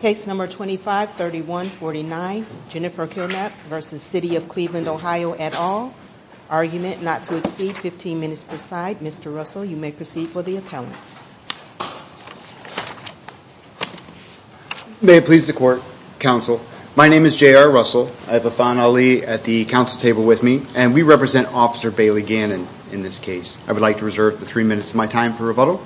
Case No. 25-3149, Jennifer Kilnapp v. City of Cleveland OH et al., argument not to exceed 15 minutes per side. Mr. Russell, you may proceed for the appellant. May it please the court, counsel. My name is J.R. Russell. I have Afan Ali at the council table with me, and we represent Officer Bailey Gannon in this case. I would like to reserve the three minutes of my time for rebuttal.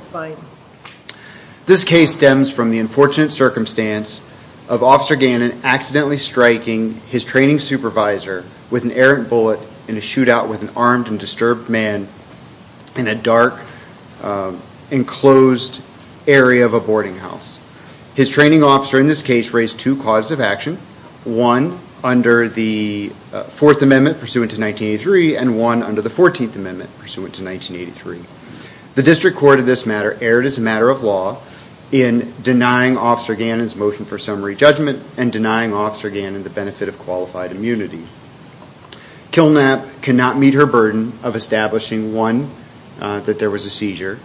This case stems from the unfortunate circumstance of Officer Gannon accidentally striking his training supervisor with an errant bullet in a shootout with an armed and disturbed man in a dark, enclosed area of a boarding house. His training officer in this case raised two causes of action, one under the Fourth Amendment pursuant to 1983 and one under the Fourteenth Amendment pursuant to 1983. The District Court of this matter erred as a matter of law in denying Officer Gannon's motion for summary judgment and denying Officer Gannon the benefit of qualified immunity. Kilnapp cannot meet her burden of establishing, one, that there was a seizure.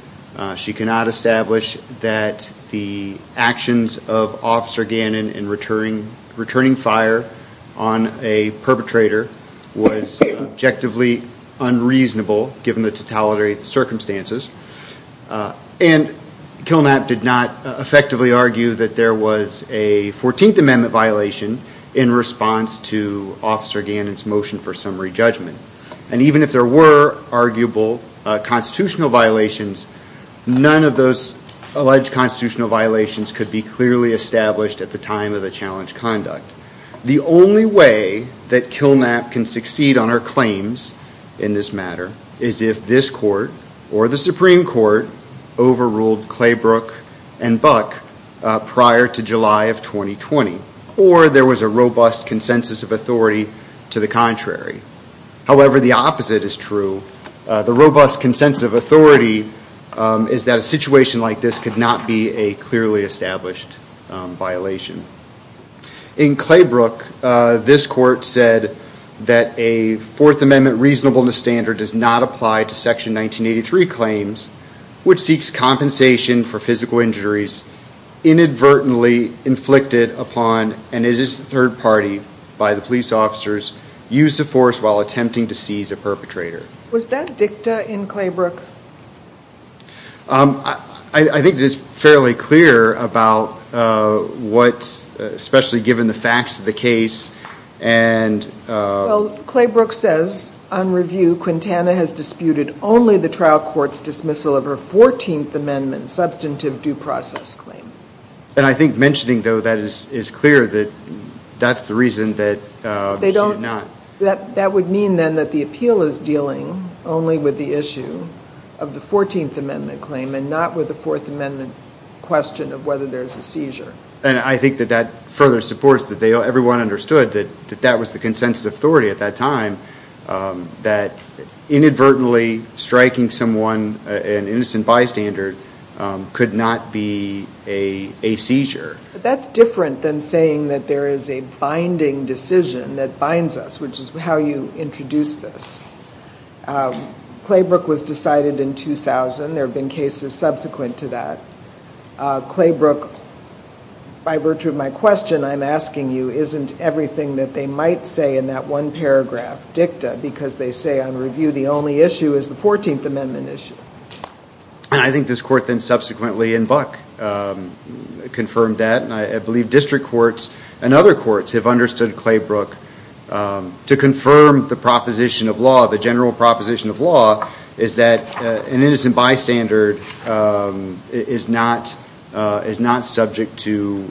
She cannot establish that the actions of Officer Gannon in returning fire on a perpetrator was objectively unreasonable given the totality of the circumstances. And Kilnapp did not effectively argue that there was a Fourteenth Amendment violation in response to Officer Gannon's motion for summary judgment. And even if there were arguable constitutional violations, none of those alleged constitutional violations could be clearly established at the time of the challenge conduct. The only way that Kilnapp can succeed on her claims in this matter is if this court or the Supreme Court overruled Claybrook and Buck prior to July of 2020 or there was a robust consensus of authority to the contrary. However, the opposite is true. The robust consensus of authority is that a situation like this could not be a clearly established violation. In Claybrook, this court said that a Fourth Amendment reasonableness standard does not apply to Section 1983 claims, which seeks compensation for physical injuries inadvertently inflicted upon and is a third party by the police officers used to force while attempting to seize a perpetrator. Was that dicta in Claybrook? I think it's fairly clear about what, especially given the facts of the case, and... Well, Claybrook says, on review, Quintana has disputed only the trial court's dismissal of her Fourteenth Amendment substantive due process claim. And I think mentioning, though, that is clear that that's the reason that she did not... That would mean, then, that the appeal is dealing only with the issue of the Fourteenth Amendment claim and not with the Fourth Amendment question of whether there's a seizure. And I think that that further supports that everyone understood that that was the consensus of authority at that time, that inadvertently striking someone, an innocent bystander, could not be a seizure. But that's different than saying that there is a binding decision that binds us, which is how you introduce this. Claybrook was decided in 2000. There have been cases subsequent to that. Claybrook, by virtue of my question, I'm asking you, isn't everything that they might say in that one paragraph dicta because they say, on review, the only issue is the Fourteenth Amendment issue? And I think this court then subsequently, in Buck, confirmed that. And I believe district courts and other courts have understood Claybrook to confirm the proposition of law, the general proposition of law, is that an innocent bystander is not subject to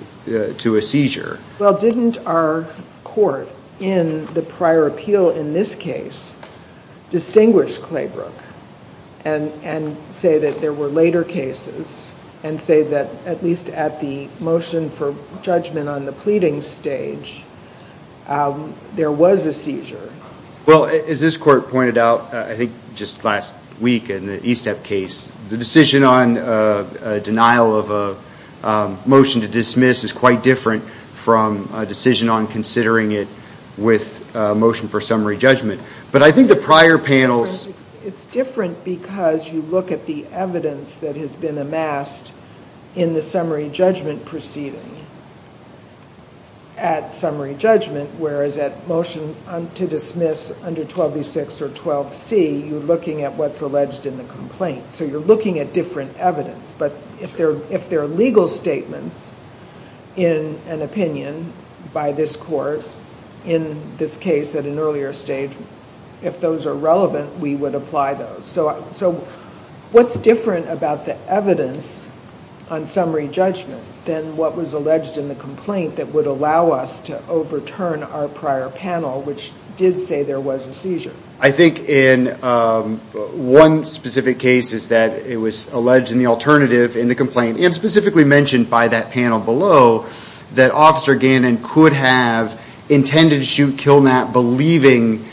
a seizure. Well, didn't our court in the prior appeal in this case distinguish Claybrook and say that there were later cases and say that, at least at the motion for judgment on the pleading stage, there was a seizure? Well, as this court pointed out, I think just last week in the Estep case, the decision on denial of a motion to dismiss is quite different from a decision on considering it with a motion for summary judgment. It's different because you look at the evidence that has been amassed in the summary judgment proceeding at summary judgment, whereas at motion to dismiss under 12b6 or 12c, you're looking at what's alleged in the complaint. So you're looking at different evidence. But if there are legal statements in an opinion by this court in this case at an earlier stage, if those are relevant, we would apply those. So what's different about the evidence on summary judgment than what was alleged in the complaint that would allow us to overturn our prior panel, which did say there was a seizure? I think in one specific case is that it was alleged in the alternative in the complaint and specifically mentioned by that panel below that Officer Gannon could have intended to shoot Kilnatt believing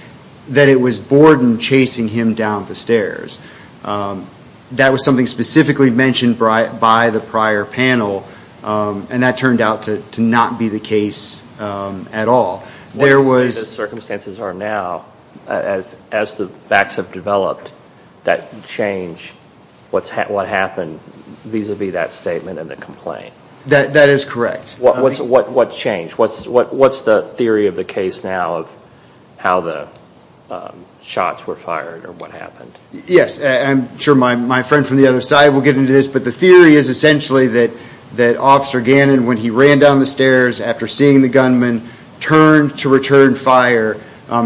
that it was Borden chasing him down the stairs. That was something specifically mentioned by the prior panel, and that turned out to not be the case at all. The circumstances are now, as the facts have developed, that change what happened vis-a-vis that statement in the complaint. That is correct. What changed? What's the theory of the case now of how the shots were fired or what happened? Yes, I'm sure my friend from the other side will get into this, but the theory is essentially that Officer Gannon, when he ran down the stairs after seeing the gunman, turned to return fire.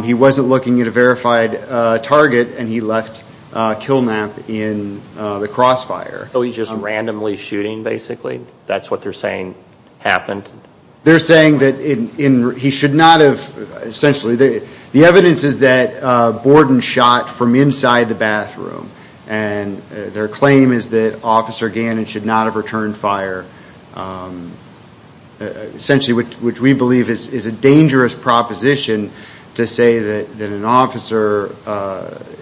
He wasn't looking at a verified target, and he left Kilnatt in the crossfire. So he's just randomly shooting, basically? That's what they're saying happened? They're saying that he should not have, essentially, the evidence is that Borden shot from inside the bathroom, and their claim is that Officer Gannon should not have returned fire. Essentially, which we believe is a dangerous proposition to say that an officer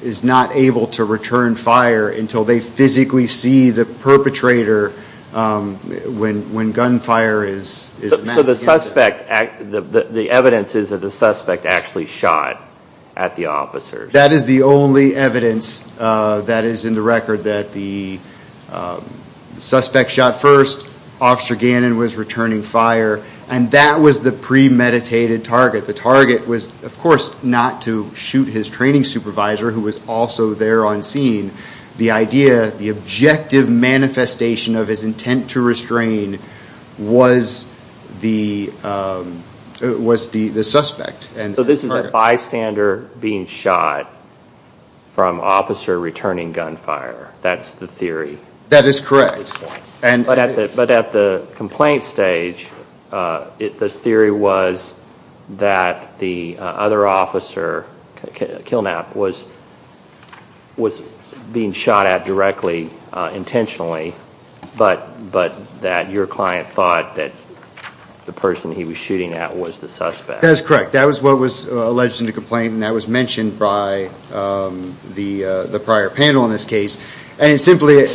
is not able to return fire until they physically see the perpetrator when gunfire is… So the evidence is that the suspect actually shot at the officers? That is the only evidence that is in the record that the suspect shot first, Officer Gannon was returning fire, and that was the premeditated target. The target was, of course, not to shoot his training supervisor, who was also there on scene. The idea, the objective manifestation of his intent to restrain was the suspect. So this is a bystander being shot from officer returning gunfire, that's the theory? That is correct. But at the complaint stage, the theory was that the other officer, Kilnatt, was being shot at directly, intentionally, but that your client thought that the person he was shooting at was the suspect? That is correct. That was what was alleged in the complaint, and that was mentioned by the prior panel in this case. And simply,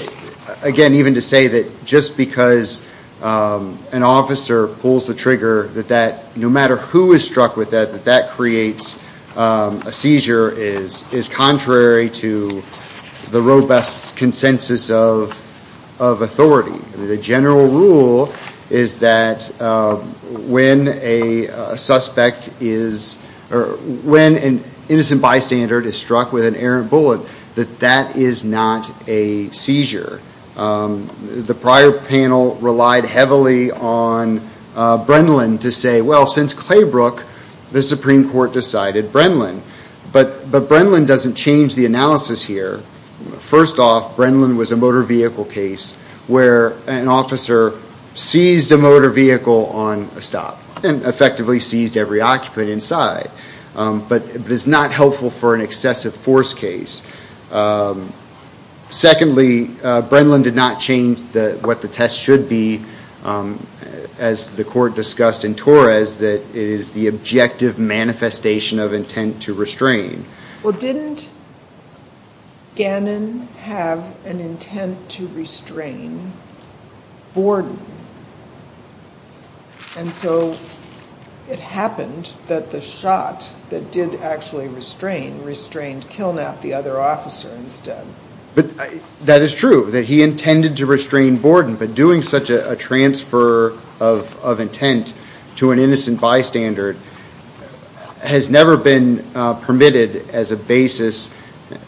again, even to say that just because an officer pulls the trigger, that no matter who is struck with that, that that creates a seizure is contrary to the robust consensus of authority. The general rule is that when an innocent bystander is struck with an errant bullet, that that is not a seizure. The prior panel relied heavily on Brenlin to say, well, since Claybrook, the Supreme Court decided Brenlin. But Brenlin doesn't change the analysis here. First off, Brenlin was a motor vehicle case where an officer seized a motor vehicle on a stop, and effectively seized every occupant inside. But it is not helpful for an excessive force case. Secondly, Brenlin did not change what the test should be, as the court discussed in Torres, that it is the objective manifestation of intent to restrain. Well, didn't Gannon have an intent to restrain Borden? And so it happened that the shot that did actually restrain, restrained Kilnap, the other officer, instead. But that is true, that he intended to restrain Borden. But doing such a transfer of intent to an innocent bystander has never been permitted as a basis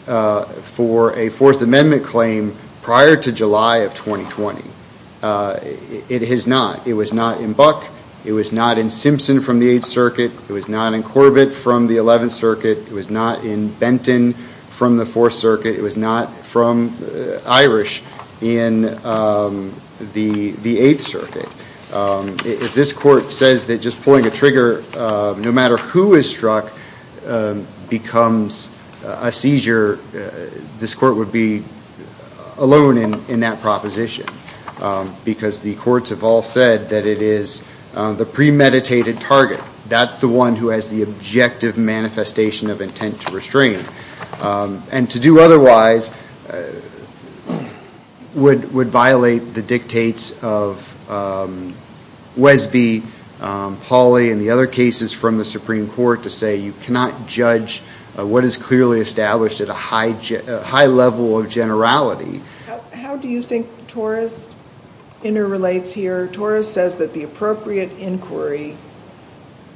for a Fourth Amendment claim prior to July of 2020. It has not. It was not in Buck. It was not in Simpson from the Eighth Circuit. It was not in Corbett from the Eleventh Circuit. It was not in Benton from the Fourth Circuit. It was not from Irish in the Eighth Circuit. If this court says that just pulling a trigger, no matter who is struck, becomes a seizure, this court would be alone in that proposition. Because the courts have all said that it is the premeditated target. That's the one who has the objective manifestation of intent to restrain. And to do otherwise would violate the dictates of Wesby, Pauley, and the other cases from the Supreme Court to say you cannot judge what is clearly established at a high level of generality. How do you think Torres interrelates here? Torres says that the appropriate inquiry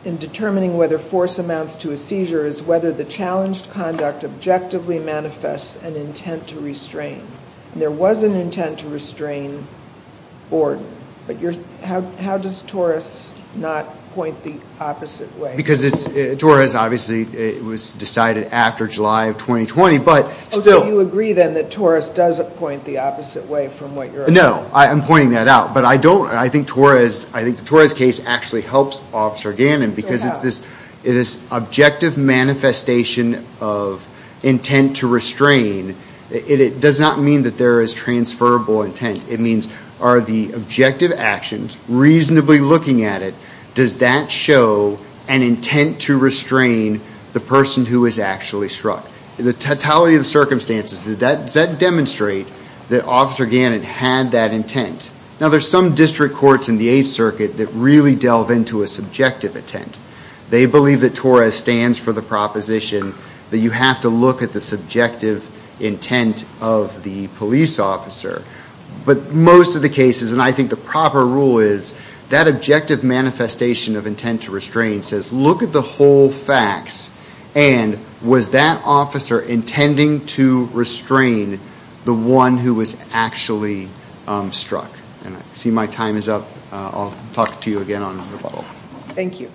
in determining whether force amounts to a seizure is whether the challenged conduct objectively manifests an intent to restrain. And there was an intent to restrain Borden. But how does Torres not point the opposite way? Because it's – Torres, obviously, it was decided after July of 2020, but still – So you agree, then, that Torres does point the opposite way from what you're – No, I'm pointing that out. But I don't – I think Torres – I think the Torres case actually helps Officer Gannon because it's this objective manifestation of intent to restrain. It does not mean that there is transferable intent. It means are the objective actions, reasonably looking at it, does that show an intent to restrain the person who is actually struck? In the totality of the circumstances, does that demonstrate that Officer Gannon had that intent? Now, there's some district courts in the Eighth Circuit that really delve into a subjective intent. They believe that Torres stands for the proposition that you have to look at the subjective intent of the police officer. But most of the cases, and I think the proper rule is that objective manifestation of intent to restrain says look at the whole facts. And was that officer intending to restrain the one who was actually struck? And I see my time is up. I'll talk to you again on the rebuttal. Thank you.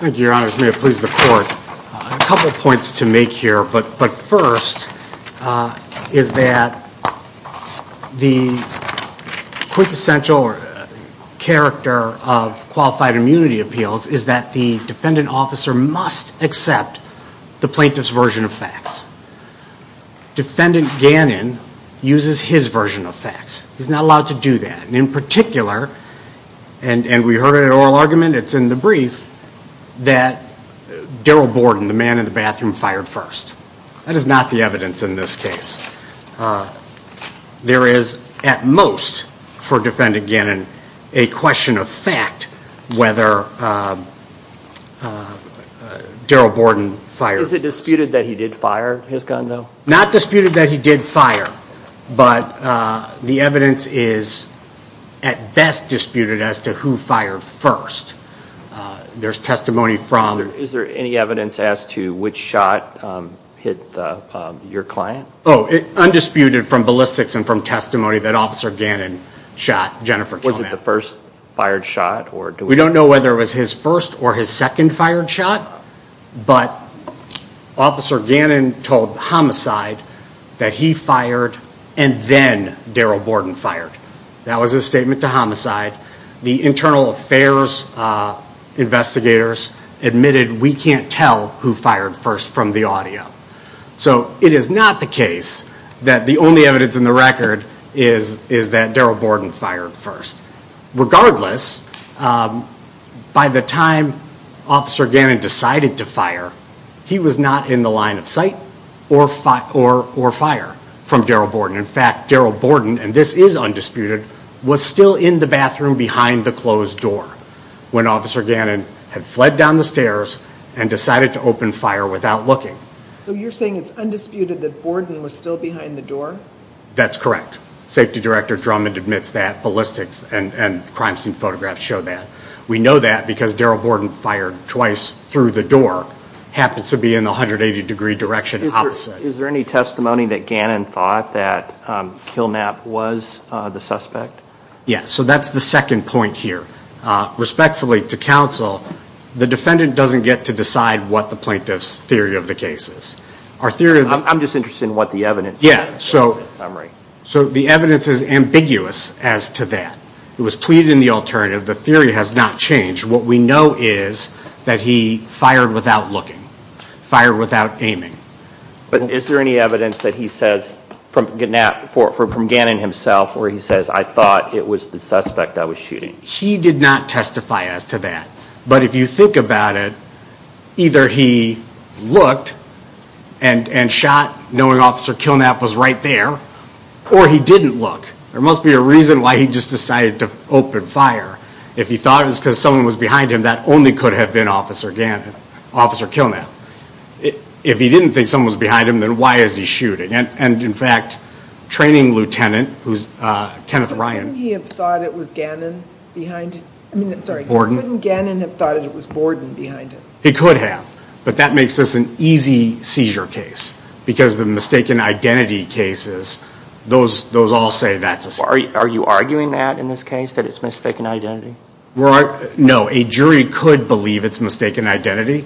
Thank you, Your Honors. May it please the Court. I have a couple of points to make here. But first is that the quintessential character of qualified immunity appeals is that the defendant officer must accept the plaintiff's version of facts. Defendant Gannon uses his version of facts. He's not allowed to do that. And in particular, and we heard it in oral argument, it's in the brief, that Daryl Borden, the man in the bathroom, fired first. That is not the evidence in this case. There is, at most, for defendant Gannon, a question of fact whether Daryl Borden fired. Is it disputed that he did fire his gun, though? Not disputed that he did fire. But the evidence is, at best, disputed as to who fired first. There's testimony from... Is there any evidence as to which shot hit your client? Oh, undisputed from ballistics and from testimony that Officer Gannon shot Jennifer Kilman. Was it the first fired shot? We don't know whether it was his first or his second fired shot. But Officer Gannon told Homicide that he fired and then Daryl Borden fired. That was his statement to Homicide. The internal affairs investigators admitted we can't tell who fired first from the audio. So it is not the case that the only evidence in the record is that Daryl Borden fired first. Regardless, by the time Officer Gannon decided to fire, he was not in the line of sight or fire from Daryl Borden. In fact, Daryl Borden, and this is undisputed, was still in the bathroom behind the closed door when Officer Gannon had fled down the stairs and decided to open fire without looking. So you're saying it's undisputed that Borden was still behind the door? That's correct. Safety Director Drummond admits that ballistics and crime scene photographs show that. We know that because Daryl Borden fired twice through the door. Happens to be in the 180 degree direction opposite. Is there any testimony that Gannon thought that Kilnap was the suspect? Yes, so that's the second point here. Respectfully to counsel, the defendant doesn't get to decide what the plaintiff's theory of the case is. I'm just interested in what the evidence is. Yeah, so the evidence is ambiguous as to that. It was pleaded in the alternative. The theory has not changed. What we know is that he fired without looking, fired without aiming. But is there any evidence that he says from Gannon himself where he says, I thought it was the suspect I was shooting? He did not testify as to that. But if you think about it, either he looked and shot knowing Officer Kilnap was right there, or he didn't look. There must be a reason why he just decided to open fire. If he thought it was because someone was behind him, that only could have been Officer Kilnap. If he didn't think someone was behind him, then why is he shooting? And, in fact, training lieutenant, who's Kenneth Ryan. Couldn't he have thought it was Gannon behind him? Sorry, couldn't Gannon have thought it was Borden behind him? He could have. But that makes this an easy seizure case. Because the mistaken identity cases, those all say that's a seizure. Are you arguing that in this case, that it's mistaken identity? No, a jury could believe it's mistaken identity.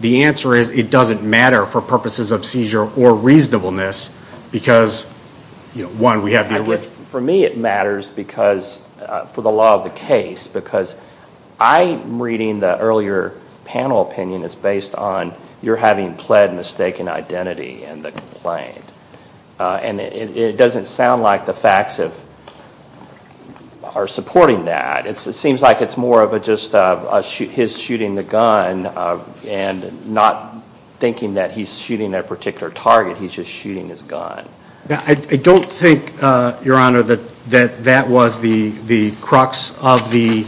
The answer is it doesn't matter for purposes of seizure or reasonableness because, one, we have the evidence. But for me it matters because, for the law of the case, because I'm reading the earlier panel opinion as based on you're having pled mistaken identity in the complaint. And it doesn't sound like the facts are supporting that. It seems like it's more of just his shooting the gun and not thinking that he's shooting a particular target, he's just shooting his gun. I don't think, Your Honor, that that was the crux of the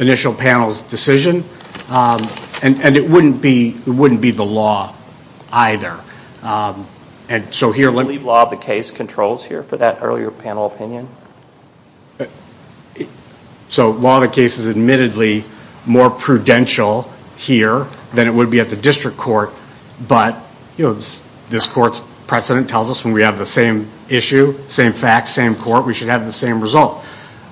initial panel's decision. And it wouldn't be the law either. So here let me... Do you believe law of the case controls here for that earlier panel opinion? So law of the case is admittedly more prudential here than it would be at the district court. But, you know, this court's precedent tells us when we have the same issue, same facts, same court, we should have the same result.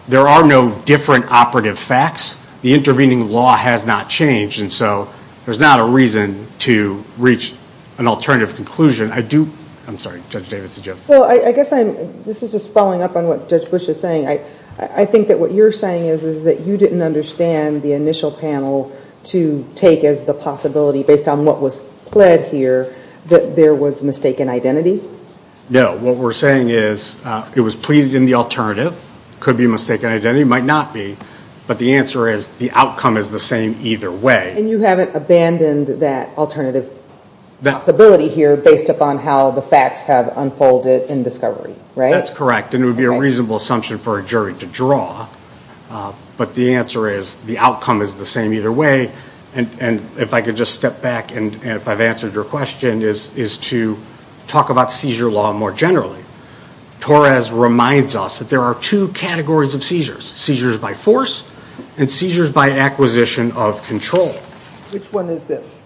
There are no different operative facts. The intervening law has not changed. And so there's not a reason to reach an alternative conclusion. I do... I'm sorry, Judge Davis. Well, I guess I'm... This is just following up on what Judge Bush is saying. I think that what you're saying is that you didn't understand the initial panel to take as the possibility, based on what was pled here, that there was mistaken identity? No. What we're saying is it was pleaded in the alternative. Could be mistaken identity. Might not be. But the answer is the outcome is the same either way. And you haven't abandoned that alternative possibility here based upon how the facts have unfolded in discovery, right? That's correct. And it would be a reasonable assumption for a jury to draw. But the answer is the outcome is the same either way. And if I could just step back, and if I've answered your question, is to talk about seizure law more generally. Torres reminds us that there are two categories of seizures. Seizures by force and seizures by acquisition of control. Which one is this?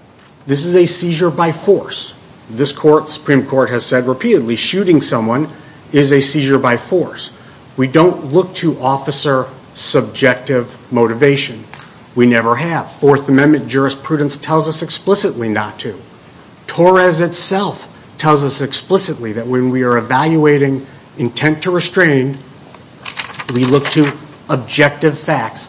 This is a seizure by force. This Supreme Court has said repeatedly, shooting someone is a seizure by force. We don't look to officer subjective motivation. We never have. Fourth Amendment jurisprudence tells us explicitly not to. Torres itself tells us explicitly that when we are evaluating intent to restrain, we look to objective facts.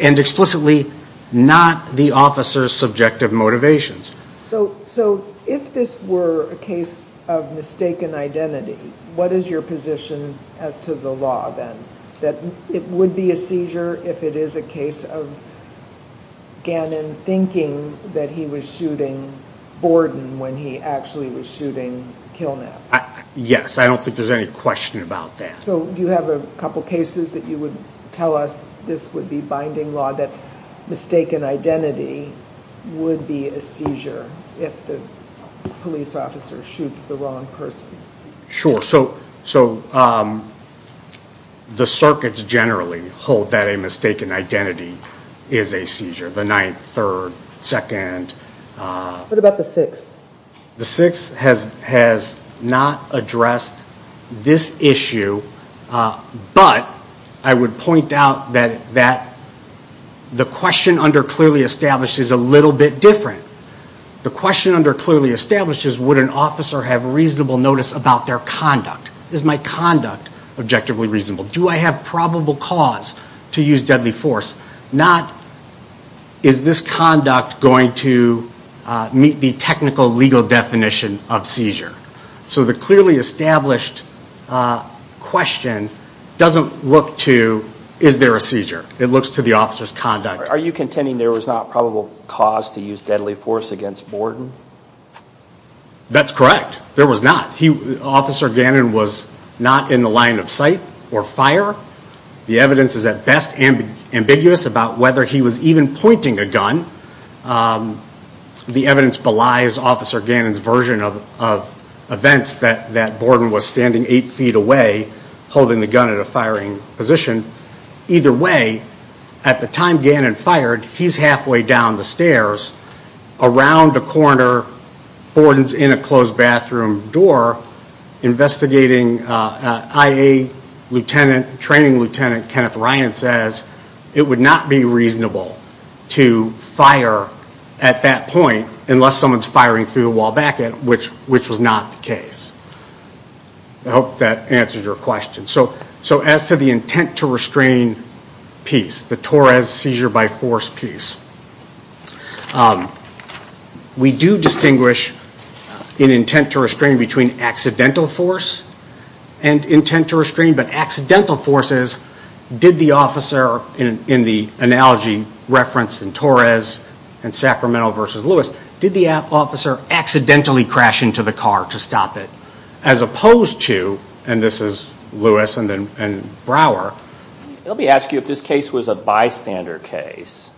And explicitly not the officer's subjective motivations. So if this were a case of mistaken identity, what is your position as to the law then? That it would be a seizure if it is a case of Gannon thinking that he was shooting Borden when he actually was shooting Kilnab. Yes, I don't think there's any question about that. So do you have a couple cases that you would tell us this would be binding law that mistaken identity would be a seizure if the police officer shoots the wrong person? So the circuits generally hold that a mistaken identity is a seizure. The ninth, third, second. What about the sixth? The sixth has not addressed this issue, but I would point out that the question under clearly established is a little bit different. The question under clearly established is would an officer have reasonable notice about their conduct? Is my conduct objectively reasonable? Do I have probable cause to use deadly force? Not is this conduct going to meet the technical legal definition of seizure? So the clearly established question doesn't look to is there a seizure. It looks to the officer's conduct. Are you contending there was not probable cause to use deadly force against Borden? That's correct. There was not. Officer Gannon was not in the line of sight or fire. The evidence is at best ambiguous about whether he was even pointing a gun. The evidence belies Officer Gannon's version of events that Borden was standing eight feet away holding the gun at a firing position. Either way, at the time Gannon fired, he's halfway down the stairs. Around the corner, Borden's in a closed bathroom door investigating IA Lieutenant, training Lieutenant Kenneth Ryan says, it would not be reasonable to fire at that point unless someone's firing through the wall back at him, which was not the case. I hope that answers your question. So as to the intent to restrain piece, the Torres seizure by force piece, we do distinguish an intent to restrain between accidental force and intent to restrain, but accidental force is did the officer in the analogy referenced in Torres and Sacramento versus Lewis, did the officer accidentally crash into the car to stop it? As opposed to, and this is Lewis and Brower. Let me ask you if this case was a bystander case.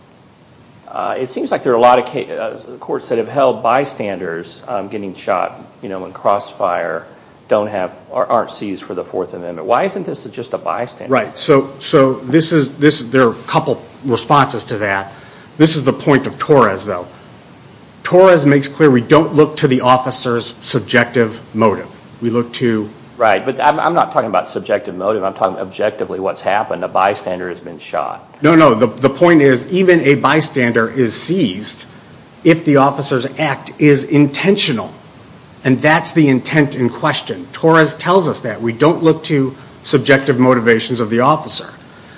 It seems like there are a lot of courts that have held bystanders getting shot in crossfire aren't seized for the Fourth Amendment. Why isn't this just a bystander case? Right. So there are a couple responses to that. This is the point of Torres, though. Torres makes clear we don't look to the officer's subjective motive. We look to. Right, but I'm not talking about subjective motive. I'm talking objectively what's happened. A bystander has been shot. No, no. The point is even a bystander is seized if the officer's act is intentional, and that's the intent in question. Torres tells us that. We don't look to subjective motivations of the officer.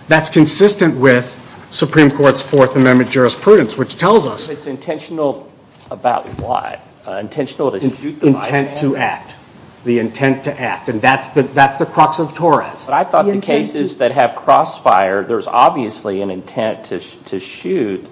That's consistent with Supreme Court's Fourth Amendment jurisprudence, which tells us. It's intentional about what? Intentional to shoot the bystander? Intent to act. The intent to act, and that's the crux of Torres. But I thought the cases that have crossfire, there's obviously an intent to shoot,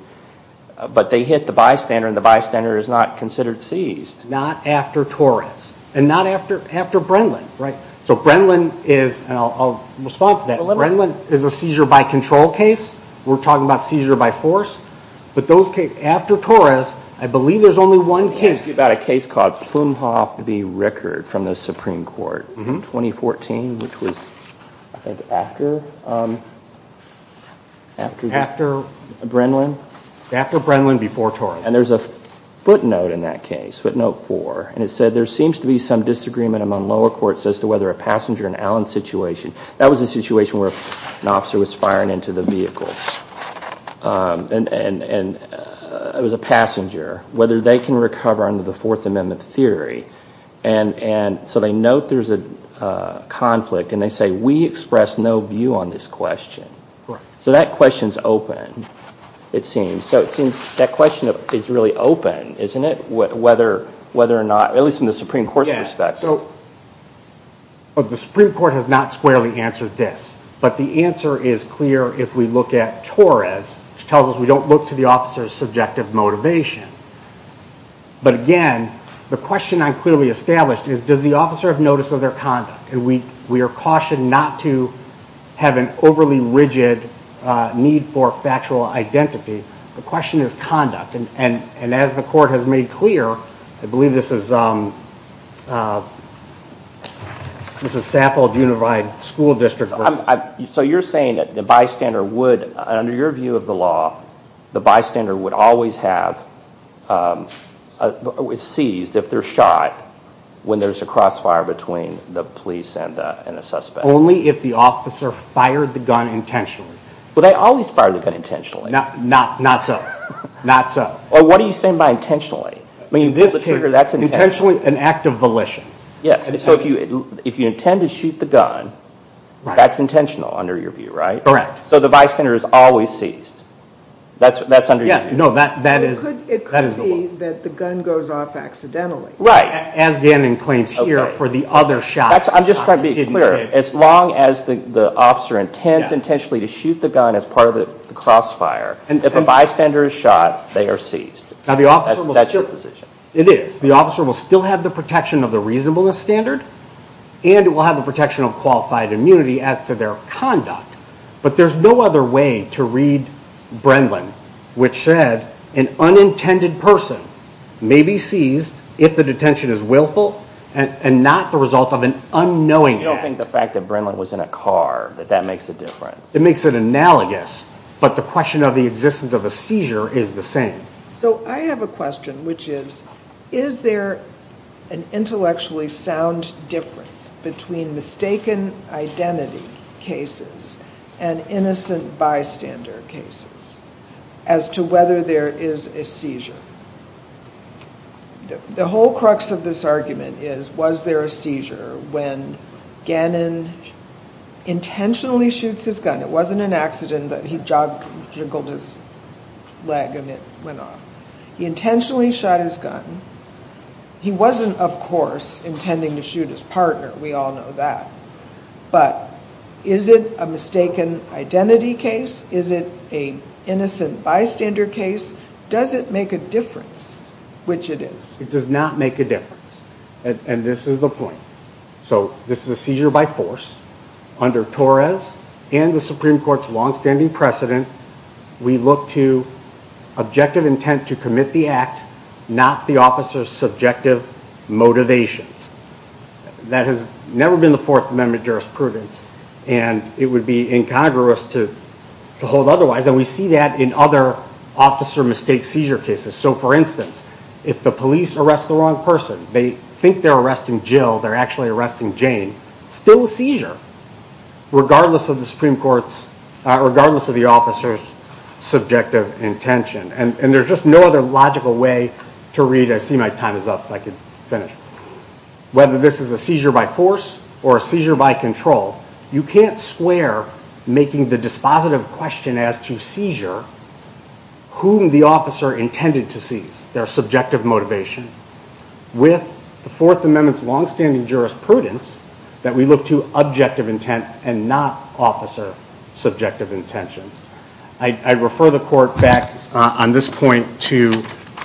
but they hit the bystander, and the bystander is not considered seized. Not after Torres, and not after Brenlin, right? So Brenlin is, and I'll respond to that. Brenlin is a seizure by control case. We're talking about seizure by force. But those cases, after Torres, I believe there's only one case. It's about a case called Plumhoff v. Rickard from the Supreme Court in 2014, which was, I think, after? After? Brenlin? After Brenlin, before Torres. And there's a footnote in that case, footnote four, and it said, there seems to be some disagreement among lower courts as to whether a passenger in Allen's situation, that was a situation where an officer was firing into the vehicle, and it was a passenger, whether they can recover under the Fourth Amendment theory. And so they note there's a conflict, and they say, we express no view on this question. So that question's open, it seems. So it seems that question is really open, isn't it? Whether or not, at least from the Supreme Court's perspective. The Supreme Court has not squarely answered this, but the answer is clear if we look at Torres, which tells us we don't look to the officer's subjective motivation. But again, the question I clearly established is, does the officer have notice of their conduct? We are cautioned not to have an overly rigid need for factual identity. The question is conduct. And as the court has made clear, I believe this is Saffold Unified School District. So you're saying that the bystander would, under your view of the law, the bystander would always have seized if they're shot when there's a crossfire between the police and a suspect. Only if the officer fired the gun intentionally. Well, they always fire the gun intentionally. Not so. What are you saying by intentionally? Intentionally, an act of volition. So if you intend to shoot the gun, that's intentional under your view, right? Correct. So the bystander is always seized. That's under your view. No, that is the law. It could be that the gun goes off accidentally. Right. As Gannon claims here for the other shot. I'm just trying to be clear. As long as the officer intends intentionally to shoot the gun as part of the crossfire, if a bystander is shot, they are seized. That's your position. It is. The officer will still have the protection of the reasonableness standard, and it will have the protection of qualified immunity as to their conduct. But there's no other way to read Brendlin, which said, an unintended person may be seized if the detention is willful and not the result of an unknowing act. You don't think the fact that Brendlin was in a car, that that makes a difference? It makes it analogous. But the question of the existence of a seizure is the same. So I have a question, which is, is there an intellectually sound difference between mistaken identity cases and innocent bystander cases as to whether there is a seizure? The whole crux of this argument is, was there a seizure when Gannon intentionally shoots his gun? It wasn't an accident that he juggled his leg and it went off. He intentionally shot his gun. He wasn't, of course, intending to shoot his partner. We all know that. But is it a mistaken identity case? Is it an innocent bystander case? Does it make a difference, which it is? It does not make a difference. And this is the point. So this is a seizure by force. Under Torres and the Supreme Court's longstanding precedent, we look to objective intent to commit the act, not the officer's subjective motivations. That has never been the Fourth Amendment jurisprudence, and it would be incongruous to hold otherwise. And we see that in other officer mistake seizure cases. So, for instance, if the police arrest the wrong person, they think they're arresting Jill, they're actually arresting Jane, still a seizure, regardless of the Supreme Court's, regardless of the officer's subjective intention. And there's just no other logical way to read it. I see my time is up. If I could finish. Whether this is a seizure by force or a seizure by control, you can't square making the dispositive question as to seizure whom the officer intended to seize, their subjective motivation, with the Fourth Amendment's longstanding jurisprudence that we look to objective intent and not officer subjective intentions. I refer the court back on this point to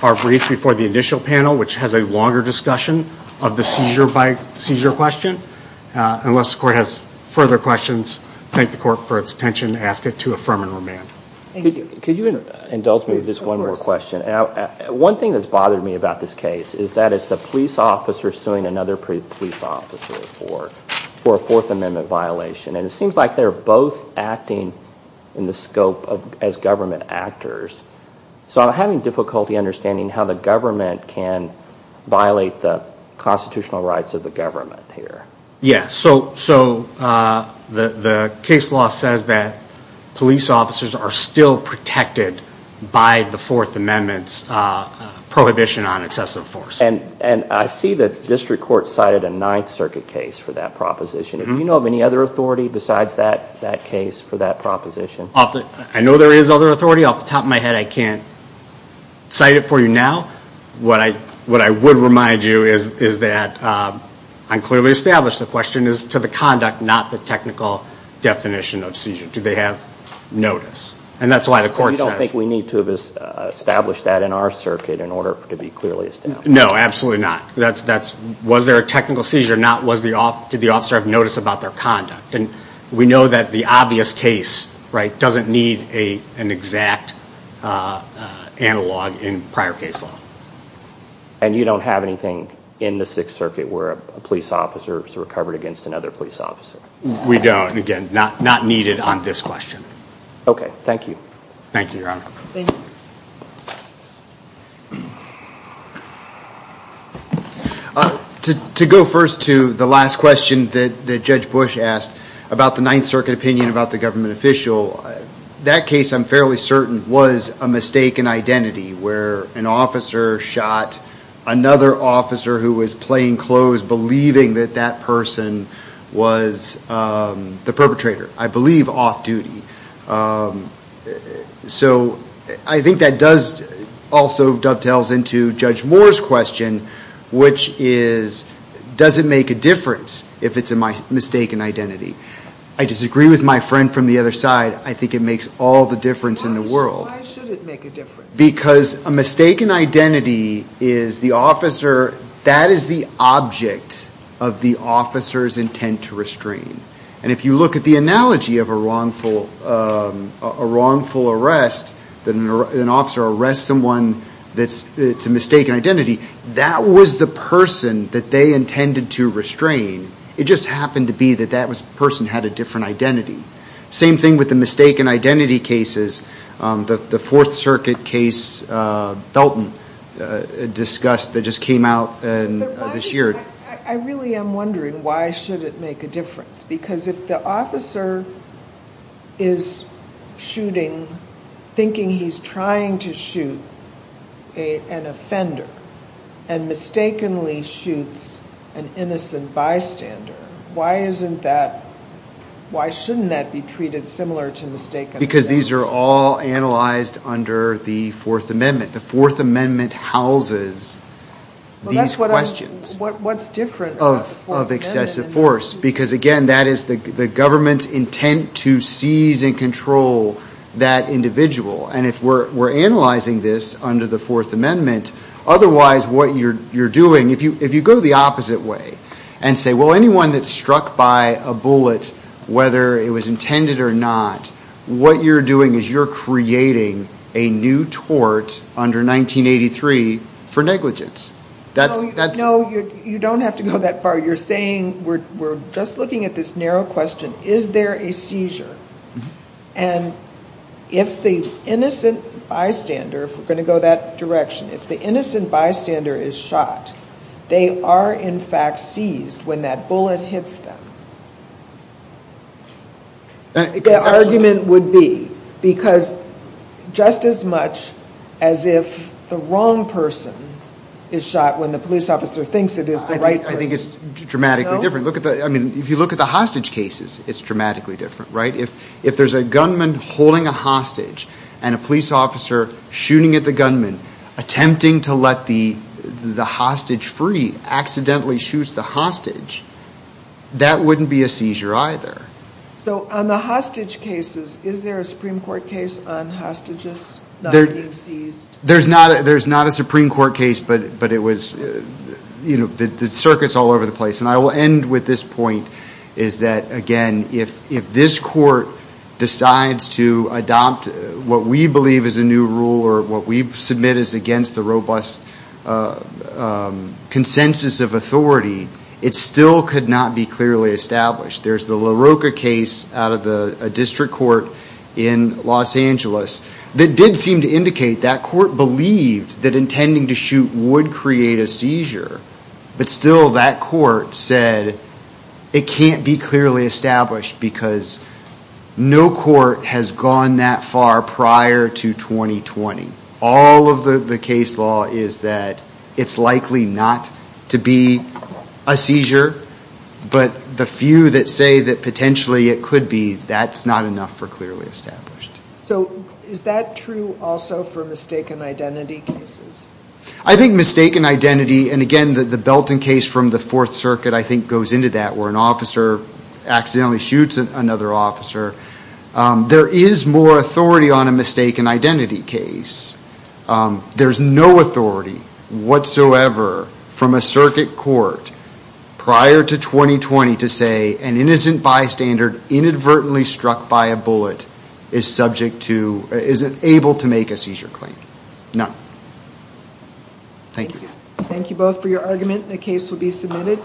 our brief before the initial panel, which has a longer discussion of the seizure by seizure question. Unless the court has further questions, thank the court for its attention. Ask it to affirm and remand. Could you indulge me of just one more question? One thing that's bothered me about this case is that it's a police officer pursuing another police officer for a Fourth Amendment violation. And it seems like they're both acting in the scope as government actors. So I'm having difficulty understanding how the government can violate the constitutional rights of the government here. Yes. So the case law says that police officers are still protected by the Fourth Amendment's prohibition on excessive force. And I see that the district court cited a Ninth Circuit case for that proposition. Do you know of any other authority besides that case for that proposition? I know there is other authority. Off the top of my head, I can't cite it for you now. What I would remind you is that I'm clearly established. The question is to the conduct, not the technical definition of seizure. Do they have notice? And that's why the court says. I don't think we need to establish that in our circuit in order to be clearly established. No, absolutely not. Was there a technical seizure or not? Did the officer have notice about their conduct? And we know that the obvious case doesn't need an exact analog in prior case law. And you don't have anything in the Sixth Circuit where a police officer is recovered against another police officer? We don't. Again, not needed on this question. Okay. Thank you. Thank you, Your Honor. Thank you. To go first to the last question that Judge Bush asked about the Ninth Circuit opinion about the government official, that case, I'm fairly certain, was a mistaken identity where an officer shot another officer who was playing close, believing that that person was the perpetrator, I believe off-duty. So I think that also dovetails into Judge Moore's question, which is does it make a difference if it's a mistaken identity? I disagree with my friend from the other side. I think it makes all the difference in the world. Why should it make a difference? Because a mistaken identity is the officer, that is the object of the officer's intent to restrain. And if you look at the analogy of a wrongful arrest, that an officer arrests someone that's a mistaken identity, that was the person that they intended to restrain. It just happened to be that that person had a different identity. Same thing with the mistaken identity cases. The Fourth Circuit case, Felton, discussed that just came out this year. I really am wondering why should it make a difference? Because if the officer is shooting, thinking he's trying to shoot an offender, and mistakenly shoots an innocent bystander, why shouldn't that be treated similar to mistaken identity? Because these are all analyzed under the Fourth Amendment. The Fourth Amendment houses these questions. What's different about the Fourth Amendment? Because, again, that is the government's intent to seize and control that individual. And if we're analyzing this under the Fourth Amendment, otherwise what you're doing, if you go the opposite way and say, well, anyone that's struck by a bullet, whether it was intended or not, what you're doing is you're creating a new tort under 1983 for negligence. No, you don't have to go that far. You're saying we're just looking at this narrow question, is there a seizure? And if the innocent bystander, if we're going to go that direction, if the innocent bystander is shot, they are in fact seized when that bullet hits them. Their argument would be because just as much as if the wrong person is shot when the police officer thinks it is the right person. I think it's dramatically different. I mean, if you look at the hostage cases, it's dramatically different, right? If there's a gunman holding a hostage and a police officer shooting at the gunman, attempting to let the hostage free, accidentally shoots the hostage, that wouldn't be a seizure either. So on the hostage cases, is there a Supreme Court case on hostages not being seized? There's not a Supreme Court case, but it was, you know, the circuit's all over the place. And I will end with this point, is that, again, if this court decides to adopt what we believe is a new rule or what we submit is against the robust consensus of authority, it still could not be clearly established. There's the LaRocca case out of a district court in Los Angeles that did seem to indicate that court believed that intending to shoot would create a seizure, but still that court said it can't be clearly established because no court has gone that far prior to 2020. All of the case law is that it's likely not to be a seizure, but the few that say that potentially it could be, that's not enough for clearly established. So is that true also for mistaken identity cases? I think mistaken identity, and again, the Belton case from the Fourth Circuit I think goes into that where an officer accidentally shoots another officer. There is more authority on a mistaken identity case. There's no authority whatsoever from a circuit court prior to 2020 to say an innocent bystander inadvertently struck by a bullet is subject to, is able to make a seizure claim. No. Thank you. Thank you both for your argument. The case will be submitted.